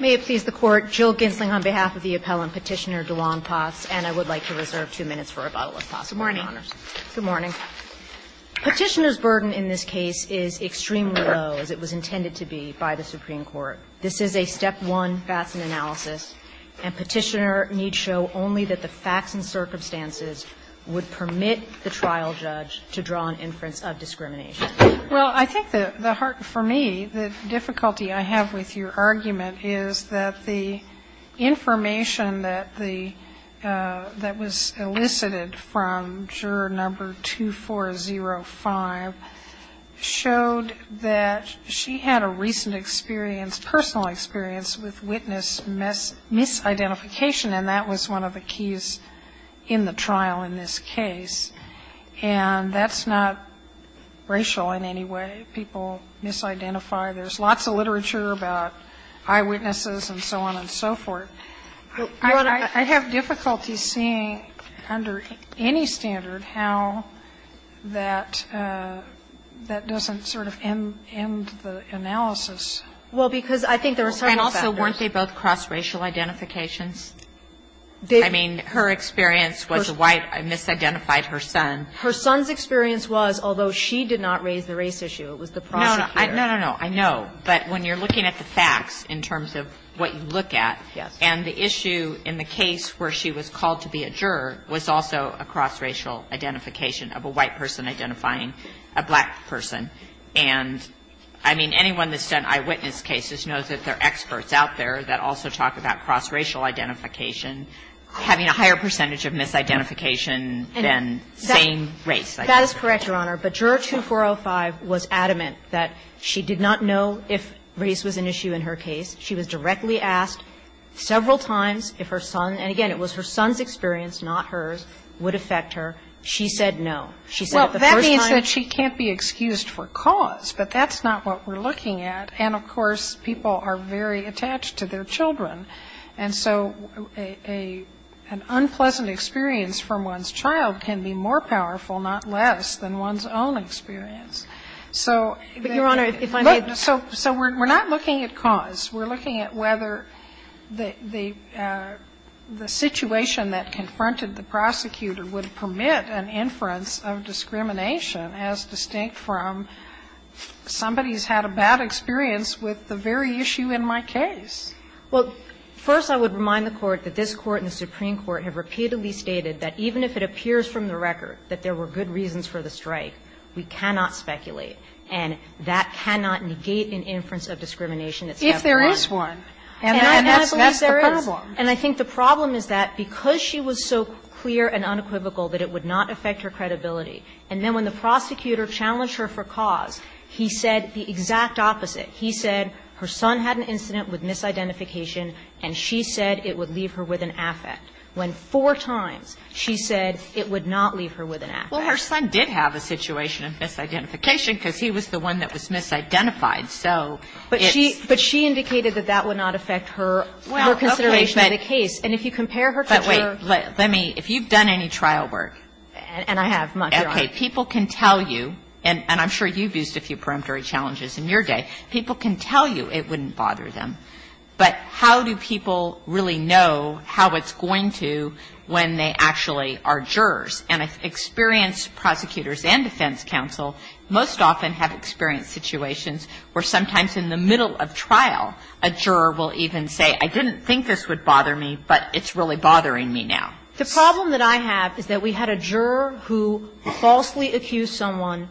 May it please the Court, Jill Gensling on behalf of the appellant, Petitioner DeWong Potts, and I would like to reserve two minutes for rebuttal, if possible. Good morning. Good morning. Petitioner's burden in this case is extremely low, as it was intended to be by the Supreme Court. This is a step one FASN analysis, and Petitioner needs show only that the facts and circumstances would permit the trial judge to draw an inference of discrimination. Well, I think that the heart for me, the difficulty I have with your argument is that the information that was elicited from juror number 2405 showed that she had a recent experience, personal experience, with witness misidentification, and that was one of the keys in the trial in this case. And that's not racial in any way. People misidentify. There's lots of literature about eyewitnesses and so on and so forth. I have difficulty seeing under any standard how that doesn't sort of end the analysis. Well, because I think there are certain factors. And also, weren't they both cross-racial identifications? I mean, her experience was a white misidentified her son. Her son's experience was, although she did not raise the race issue, it was the prosecutor. No, no, no. I know. But when you're looking at the facts in terms of what you look at, and the issue in the case where she was called to be a juror was also a cross-racial identification of a white person identifying a black person. And I mean, anyone that's done eyewitness cases knows that there are experts out there that also talk about cross-racial identification having a higher percentage of misidentification than saying race. That is correct, Your Honor. But Juror 2405 was adamant that she did not know if race was an issue in her case. She was directly asked several times if her son, and again, it was her son's experience, not hers, would affect her. She said no. She said it the first time. Well, that means that she can't be excused for cause, but that's not what we're looking at. And, of course, people are very attached to their children, and so an unpleasant experience from one's child can be more powerful, not less, than one's own experience. So we're not looking at cause. We're looking at whether the situation that confronted the prosecutor would permit an inference of discrimination as distinct from somebody's had a bad experience with the very issue in my case. Well, first, I would remind the Court that this Court and the Supreme Court have repeatedly stated that even if it appears from the record that there were good reasons for the strike, we cannot speculate, and that cannot negate an inference of discrimination that's never won. If there is one, and that's the problem. And I think the problem is that because she was so clear and unequivocal that it would not affect her credibility, and then when the prosecutor challenged her for cause, he said the exact opposite. He said her son had an incident with misidentification, and she said it would leave her with an affect, when four times she said it would not leave her with an affect. Well, her son did have a situation of misidentification because he was the one that was misidentified. So it's the same. But she indicated that that would not affect her consideration of the case. And if you compare her to her ---- But wait. And I have, Your Honor. Okay. People can tell you, and I'm sure you've used a few peremptory challenges in your day, people can tell you it wouldn't bother them. But how do people really know how it's going to when they actually are jurors? And experienced prosecutors and defense counsel most often have experienced situations where sometimes in the middle of trial, a juror will even say, I didn't think this would bother me, but it's really bothering me now. The problem that I have is that we had a juror who falsely accused someone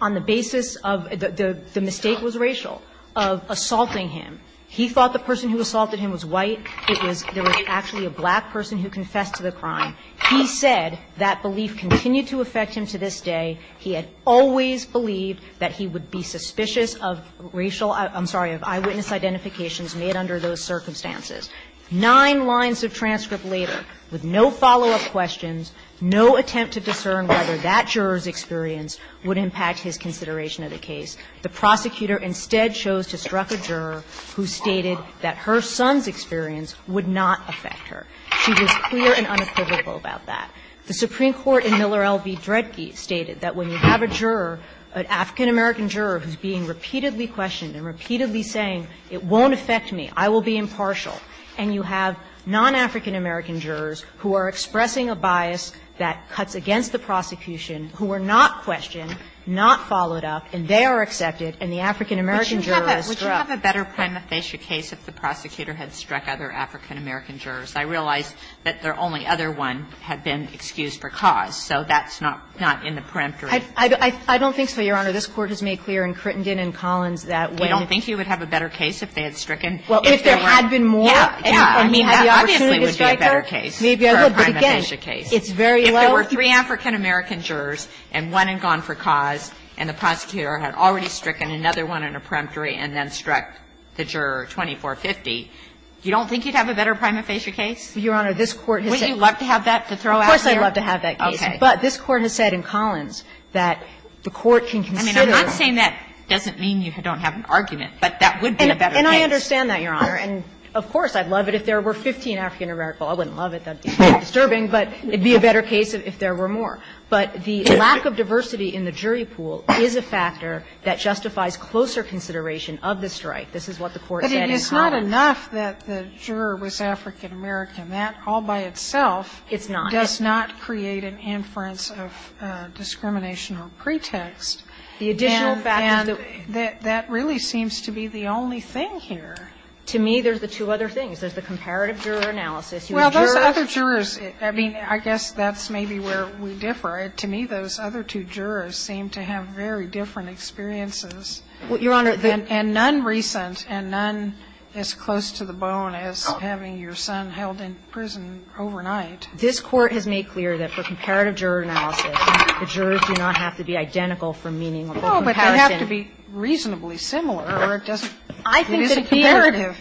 on the basis of the mistake was racial, of assaulting him. He thought the person who assaulted him was white. It was actually a black person who confessed to the crime. He said that belief continued to affect him to this day. He had always believed that he would be suspicious of racial ---- I'm sorry, of eyewitness identifications made under those circumstances. Nine lines of transcript later with no follow-up questions, no attempt to discern whether that juror's experience would impact his consideration of the case, the prosecutor instead chose to struck a juror who stated that her son's experience would not affect her. She was clear and unequivocal about that. The Supreme Court in Miller v. Dredge stated that when you have a juror, an African-American juror who's being repeatedly questioned and repeatedly saying, it won't affect me, I will be impartial, and you have non-African-American jurors who are expressing a bias that cuts against the prosecution, who are not questioned, not followed up, and they are accepted, and the African-American juror is struck. Kagan, would you have a better prima facie case if the prosecutor had struck other African-American jurors? I realize that the only other one had been excused for cause, so that's not in the peremptory. I don't think so, Your Honor. This Court has made clear in Crittenden and Collins that when if you have a better prima facie case, if they had stricken, if there weren't any more, I mean, that obviously would be a better case for a prima facie case. If there were three African-American jurors and one had gone for cause and the prosecutor had already stricken another one in a peremptory and then struck the juror 2450, you don't think you'd have a better prima facie case? Your Honor, this Court has said that. Wouldn't you love to have that to throw out there? Of course, I'd love to have that case, but this Court has said in Collins that the Court can consider. I mean, I'm not saying that doesn't mean you don't have an argument, but that would be a better case. And I understand that, Your Honor. And of course, I'd love it if there were 15 African-American. Well, I wouldn't love it. That would be very disturbing, but it would be a better case if there were more. But the lack of diversity in the jury pool is a factor that justifies closer consideration of the strike. This is what the Court said in Collins. But it's not enough that the juror was African-American. That all by itself does not create an inference of discrimination or pretext. The additional fact is that that really seems to be the only thing here. To me, there's the two other things. There's the comparative juror analysis. Well, those other jurors, I mean, I guess that's maybe where we differ. To me, those other two jurors seem to have very different experiences. Well, Your Honor, the And none recent, and none as close to the bone as having your son held in prison overnight. This Court has made clear that for comparative juror analysis, the jurors do not have to be identical for meaningful comparison. Sotomayor, I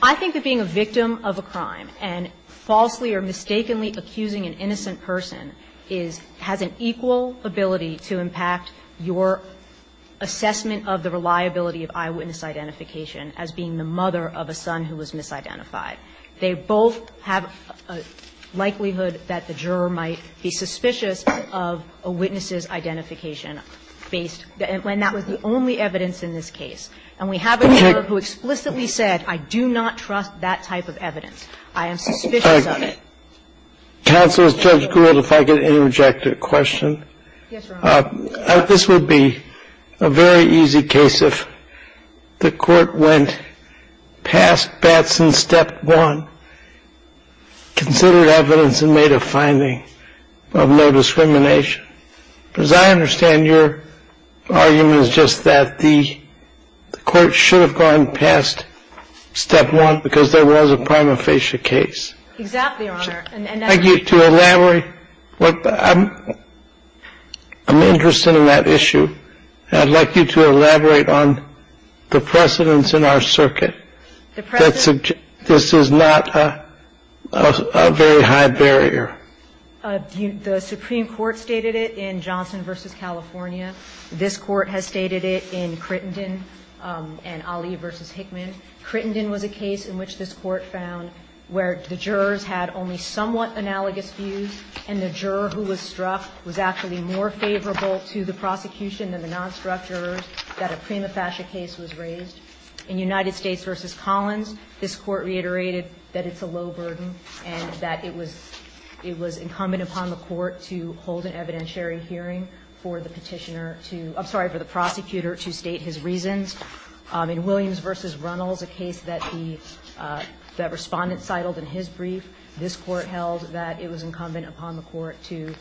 think that being a victim of a crime and falsely or mistakenly accusing an innocent person is, has an equal ability to impact your assessment of the reliability of eyewitness identification as being the mother of a son who was misidentified. They both have a likelihood that the juror might be suspicious of a witness's identification based, when that was the only evidence in this case. And we have a juror who explicitly said, I do not trust that type of evidence. I am suspicious of it. Counsel, if Judge Gould, if I could interject a question. Yes, Your Honor. This would be a very easy case if the Court went past Batson's step one, considered evidence and made a finding of no discrimination. As I understand, your argument is just that the Court should have gone past step one because there was a prima facie case. Exactly, Your Honor. And I'd like you to elaborate. I'm interested in that issue, and I'd like you to elaborate on the precedents in our circuit that suggest this is not a very high barrier. The Supreme Court stated it in Johnson v. California. This Court has stated it in Crittenden and Ali v. Hickman. Crittenden was a case in which this Court found where the jurors had only somewhat analogous views, and the juror who was struck was actually more favorable to the prosecution than the non-struck jurors, that a prima facie case was raised. In United States v. Collins, this Court reiterated that it's a low burden and that it was incumbent upon the Court to hold an evidentiary hearing for the Petitioner to – I'm sorry, for the prosecutor to state his reasons. In Williams v. Runnels, a case that the Respondent cited in his brief, this Court held that it was incumbent upon the Court to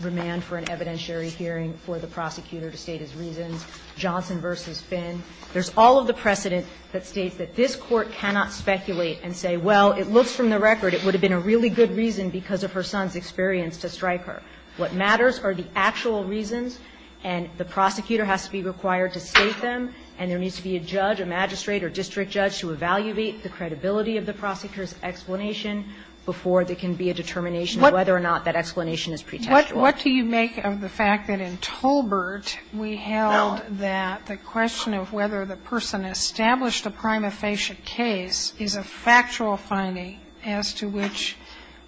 remand for an evidentiary hearing for the prosecutor to state his reasons. Johnson v. Finn, there's all of the precedent that states that this Court cannot speculate and say, well, it looks from the record it would have been a really good reason because of her son's experience to strike her. What matters are the actual reasons, and the prosecutor has to be required to state them, and there needs to be a judge, a magistrate, or district judge to evaluate the credibility of the prosecutor's explanation before there can be a determination of whether or not that explanation is pretentious. Sotomayor What do you make of the fact that in Tolbert, we held that the question of whether the person established a prima facie case is a factual finding as to which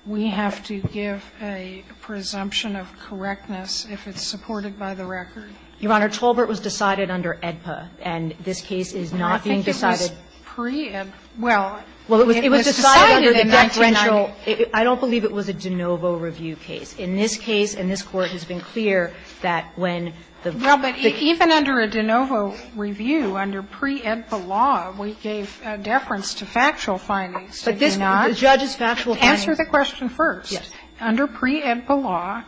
we have to give a presumption of correctness if it's supported by the record? Kagan Your Honor, Tolbert was decided under AEDPA, and this case is not being decided Sotomayor I think it was pre-AEDPA. Well, it was decided in 1990. Kagan I don't believe it was a de novo review case. In this case, and this Court has been clear that when the the case was decided under pre-AEDPA law, we gave deference to factual findings, did we not? Kagan The judge's factual findings Sotomayor Answer the question first. Under pre-AEDPA law,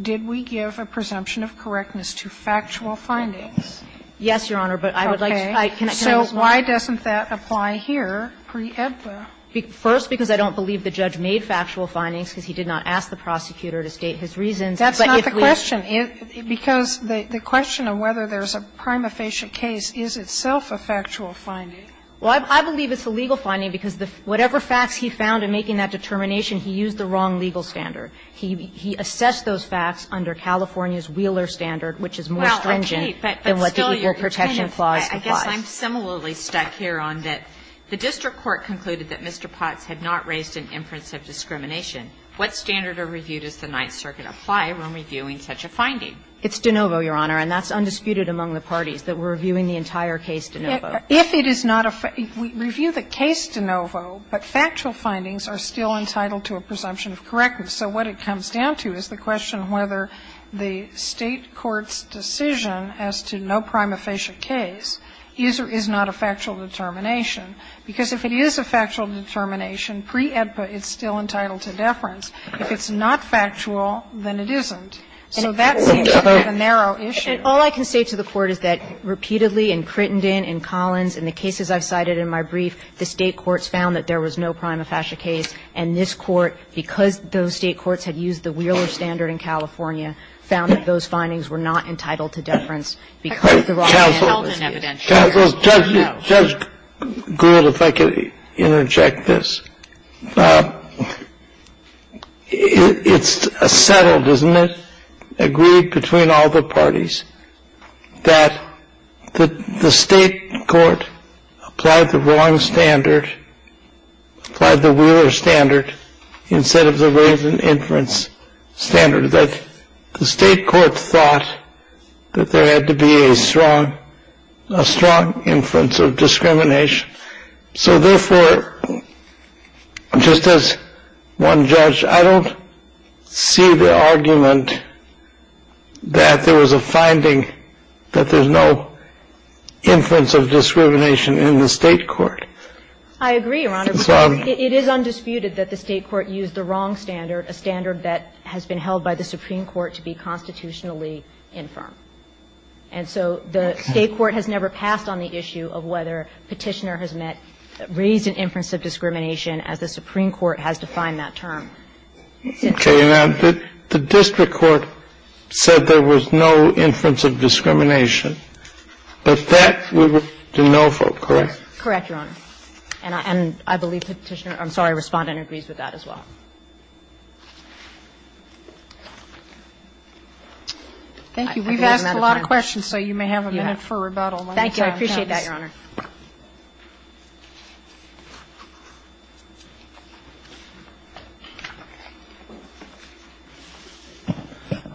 did we give a presumption of correctness to factual findings? Kagan Yes, Your Honor, but I would like to explain. Sotomayor So why doesn't that apply here, pre-AEDPA? Kagan First, because I don't believe the judge made factual findings because he did not ask the prosecutor to state his reasons. Sotomayor That's not the question, because the question of whether there's a prima facie case is itself a factual finding. Kagan Well, I believe it's a legal finding, because whatever facts he found in making that determination, he used the wrong legal standard. He assessed those facts under California's Wheeler standard, which is more stringent than what the Equal Protection Clause implies. Kagan I guess I'm similarly stuck here on that the district court concluded that Mr. Potts had not raised an inference of discrimination. Kagan It's de novo, Your Honor, and that's undisputed among the parties, that we're reviewing the entire case de novo. Sotomayor If it is not a factual finding, we review the case de novo, but factual findings are still entitled to a presumption of correctness. So what it comes down to is the question of whether the State court's decision as to no prima facie case is or is not a factual determination, because if it is a factual determination, pre-AEDPA, it's still entitled to deference. If it's not factual, then it isn't. So that seems to be a narrow issue. Kagan All I can say to the Court is that repeatedly in Crittenden, in Collins, in the cases I've cited in my brief, the State courts found that there was no prima facie case, and this Court, because those State courts had used the Wheeler standard in California, found that those findings were not entitled to deference because the raw data was there. Kennedy Counsel, Judge Gould, if I could interject this. It's settled, isn't it? Agreed between all the parties that the State court applied the wrong standard, applied the Wheeler standard instead of the Raven inference standard, that the State court thought that there had to be a strong inference of discrimination. So therefore, just as one judge, I don't see the argument that there was a finding that there's no inference of discrimination in the State court. I agree, Your Honor, but it is undisputed that the State court used the wrong standard, a standard that has been held by the Supreme Court to be constitutionally infirm. And so the State court has never passed on the issue of whether Petitioner has met raised an inference of discrimination as the Supreme Court has defined that term. Okay. Now, the district court said there was no inference of discrimination. But that we would know for, correct? Correct, Your Honor. And I believe Petitioner responded and agrees with that as well. Thank you. We've asked a lot of questions, so you may have a minute for rebuttal. Thank you. I appreciate that, Your Honor.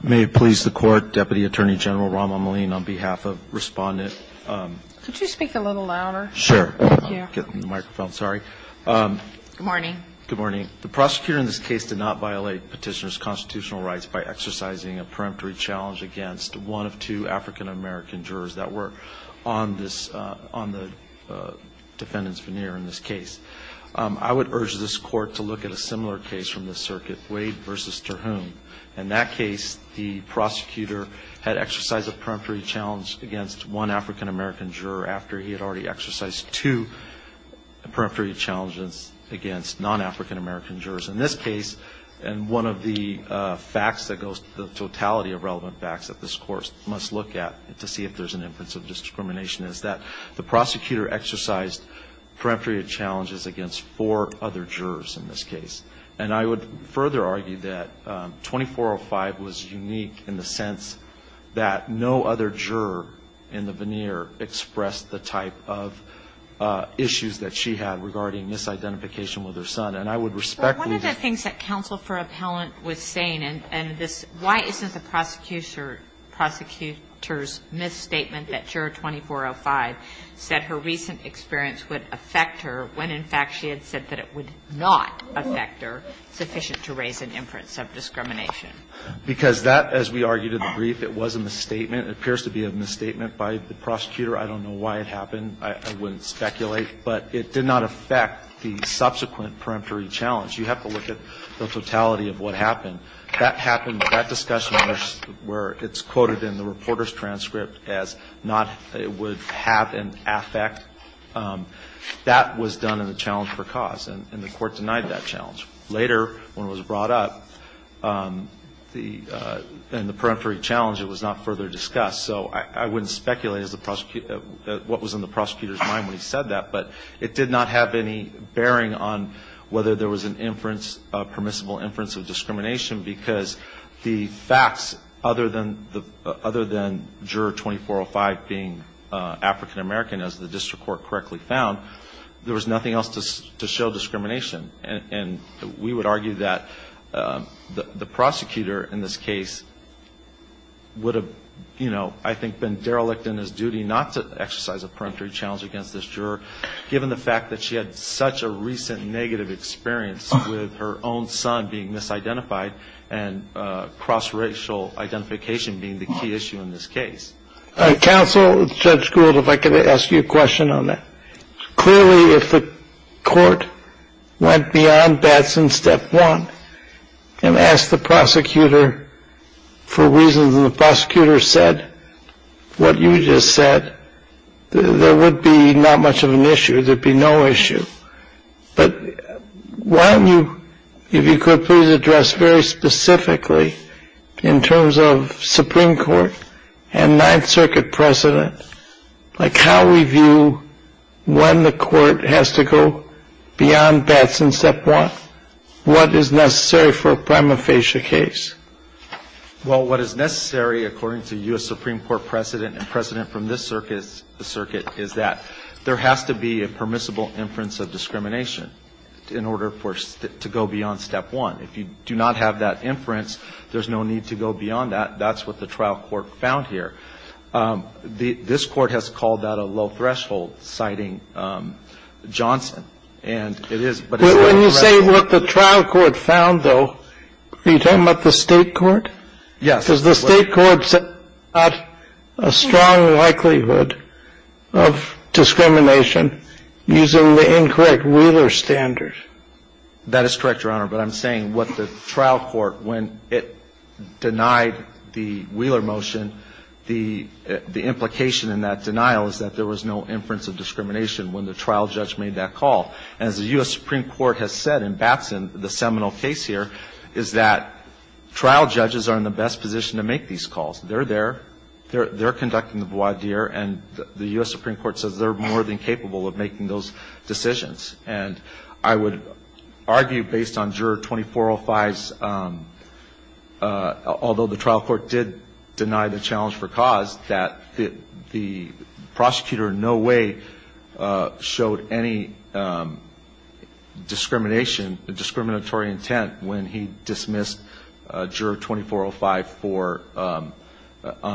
May it please the Court, Deputy Attorney General Rahm Emanuel, on behalf of Respondent Could you speak a little louder? Sure. Thank you. I'm not getting the microphone, sorry. Good morning. Good morning. The prosecutor in this case did not violate Petitioner's constitutional rights by exercising a peremptory challenge against one of two African-American jurors that were on this case. I would urge this Court to look at a similar case from the circuit, Wade versus Terhune. In that case, the prosecutor had exercised a peremptory challenge against one African-American juror after he had already exercised two peremptory challenges against non-African-American jurors. In this case, and one of the facts that goes to the totality of relevant facts that this Court must look at to see if there's an inference of discrimination, is that the prosecutor exercised peremptory challenges against four other jurors in this case. And I would further argue that 2405 was unique in the sense that no other juror in the veneer expressed the type of issues that she had regarding misidentification with her son. And I would respect that. One of the things that counsel for appellant was saying, and why isn't the prosecutor's misstatement that juror 2405 said her recent experience would affect her when, in fact, she had said that it would not affect her, sufficient to raise an inference of discrimination? Because that, as we argued in the brief, it was a misstatement. It appears to be a misstatement by the prosecutor. I don't know why it happened. I wouldn't speculate. But it did not affect the subsequent peremptory challenge. You have to look at the totality of what happened. That happened, that discussion, where it's quoted in the reporter's transcript as not, it would have an affect, that was done in the challenge for cause. And the court denied that challenge. Later, when it was brought up, in the peremptory challenge, it was not further discussed. So I wouldn't speculate what was in the prosecutor's mind when he said that. But it did not have any bearing on whether there was a permissible inference of discrimination, because the facts, other than juror 2405 being African-American, as the district court correctly found, there was nothing else to show discrimination. And we would argue that the prosecutor in this case would have, you know, I think been derelict in his duty not to exercise a peremptory challenge against this juror, given the fact that she had such a recent negative experience with her own son being misidentified, and cross-racial identification being the key issue in this case. Counsel, Judge Gould, if I could ask you a question on that. Clearly, if the court went beyond Batson step one, and asked the prosecutor for reasons the prosecutor said, what you just said, there would be not much of an issue. There'd be no issue. But why don't you, if you could please address very specifically, in terms of Supreme Court and Ninth Circuit precedent, like how we view when the court has to go beyond Batson step one? What is necessary for a prima facie case? Well, what is necessary, according to U.S. Supreme Court precedent, and precedent from this circuit is that there has to be a permissible inference of discrimination in order for it to go beyond step one. If you do not have that inference, there's no need to go beyond that. That's what the trial court found here. This court has called that a low threshold, citing Johnson. And it is, but it's not a threshold. When you say what the trial court found, though, are you talking about the state court? Yes. Because the state court said there's not a strong likelihood of discrimination using the incorrect Wheeler standard. That is correct, Your Honor. But I'm saying what the trial court, when it denied the Wheeler motion, the implication in that denial is that there was no inference of discrimination when the trial judge made that call. And as the U.S. Supreme Court has said, and that's in the seminal case here, is that trial judges are in the best position to make these calls. They're there, they're conducting the voir dire, and the U.S. Supreme Court says they're more than capable of making those decisions. And I would argue, based on Juror 2405's, although the trial court did deny the challenge for cause, that the prosecutor in no way showed any discrimination, discriminatory intent when he dismissed Juror 2405 on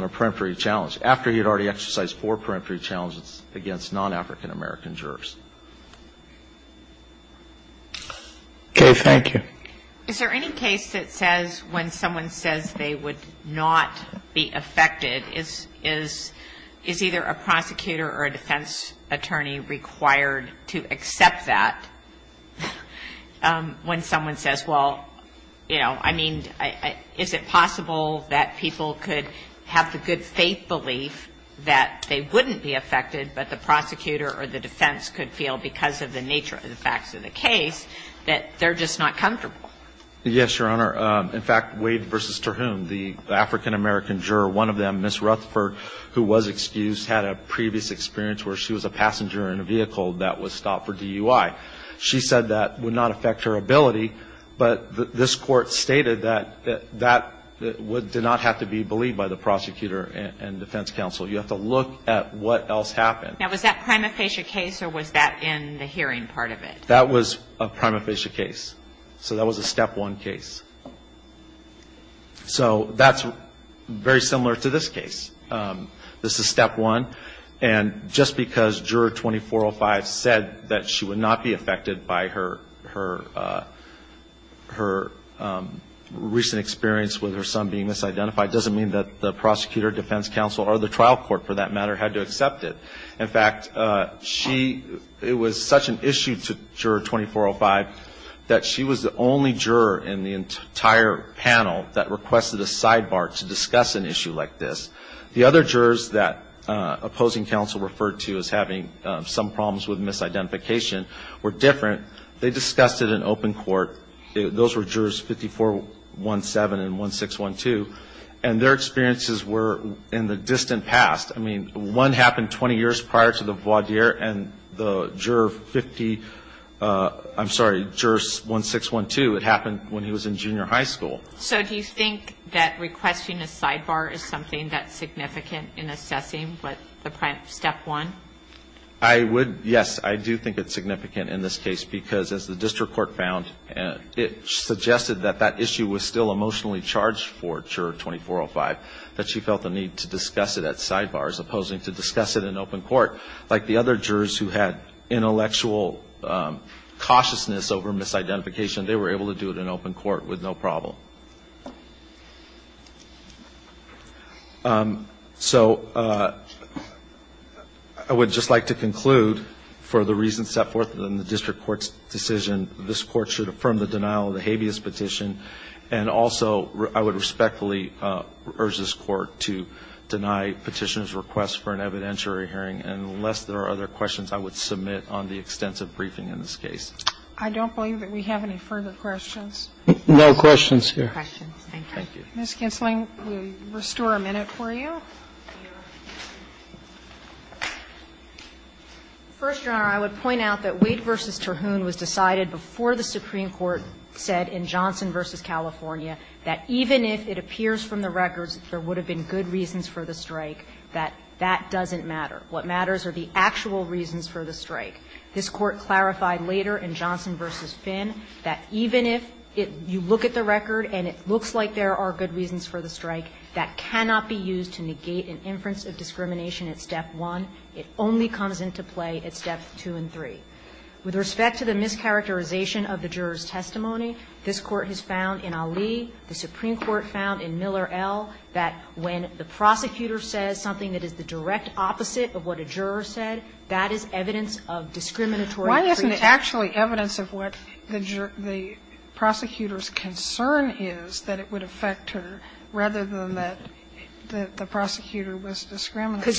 a peremptory challenge, after he had already exercised four peremptory challenges against non-African American jurors. Okay. Thank you. Is there any case that says when someone says they would not be affected, is either a prosecutor or a defense attorney required to accept that when someone says, well, you know, I mean, is it possible that people could have the good faith belief that they wouldn't be affected, but the prosecutor or the defense could feel because of the nature of the facts of the case that they're just not comfortable? Yes, Your Honor. In fact, Wade v. Terhune, the African American juror, one of them, Ms. Rutherford, who was excused, had a previous experience where she was a passenger in a vehicle that was stopped for DUI. She said that would not affect her ability, but this Court stated that that did not have to be believed by the prosecutor and defense counsel. You have to look at what else happened. Now, was that prima facie case, or was that in the hearing part of it? That was a prima facie case. So that was a step one case. So that's very similar to this case. This is step one. And just because Juror 2405 said that she would not be affected by her recent experience with her son being misidentified doesn't mean that the prosecutor, defense counsel, or the trial court, for that matter, had to accept it. In fact, she, it was such an issue to Juror 2405 that she was the only juror in the entire panel that requested a sidebar to discuss an issue like this. The other jurors that opposing counsel referred to as having some problems with misidentification were different. They discussed it in open court. Those were Jurors 5417 and 1612. And their experiences were in the distant past. I mean, one happened 20 years prior to the voir dire, and the Juror 50, I'm sorry, Juror 1612, it happened when he was in junior high school. So do you think that requesting a sidebar is something that's significant in assessing what the step one? I would, yes, I do think it's significant in this case, because as the district court found, it suggested that that issue was still emotionally charged for Juror 2405, that she felt the need to discuss it at sidebars, opposing to discuss it in open court. Like the other jurors who had intellectual cautiousness over misidentification, they were able to do it in open court with no problem. So I would just like to conclude for the reasons set forth in the district court's decision, this court should affirm the denial of the habeas petition. And also, I would respectfully urge this Court to deny Petitioner's request for an evidentiary hearing, and unless there are other questions, I would submit on the extensive briefing in this case. I don't believe that we have any further questions. No questions here. Thank you. Ms. Kinzling, we'll restore a minute for you. First, Your Honor, I would point out that Wade v. Terhune was decided before the Supreme Court in Johnson v. California that even if it appears from the records that there would have been good reasons for the strike, that that doesn't matter. What matters are the actual reasons for the strike. This Court clarified later in Johnson v. Finn that even if you look at the record and it looks like there are good reasons for the strike, that cannot be used to negate an inference of discrimination at Step 1. It only comes into play at Steps 2 and 3. With respect to the mischaracterization of the juror's testimony, this Court has found in Ali, the Supreme Court found in Miller, L., that when the prosecutor says something that is the direct opposite of what a juror said, that is evidence of discriminatory pretext. Why isn't it actually evidence of what the prosecutor's concern is, that it would affect her, rather than that the prosecutor was discriminatory? I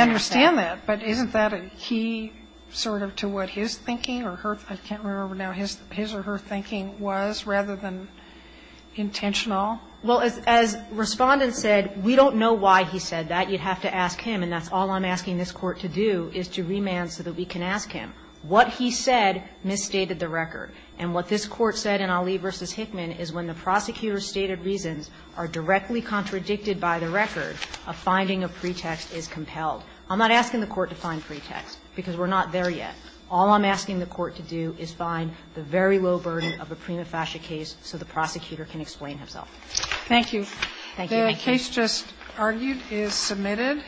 understand that, but isn't that a key sort of to what his thinking or her, I can't remember now, his or her thinking was, rather than intentional? Well, as Respondent said, we don't know why he said that. You'd have to ask him, and that's all I'm asking this Court to do, is to remand so that we can ask him. What he said misstated the record. And what this Court said in Ali v. Hickman is when the prosecutor's stated reasons are directly contradicted by the record, a finding of pretext is compelled. I'm not asking the Court to find pretext, because we're not there yet. All I'm asking the Court to do is find the very low burden of a prima facie case so the prosecutor can explain himself. Thank you. Thank you. Thank you. The case just argued is submitted.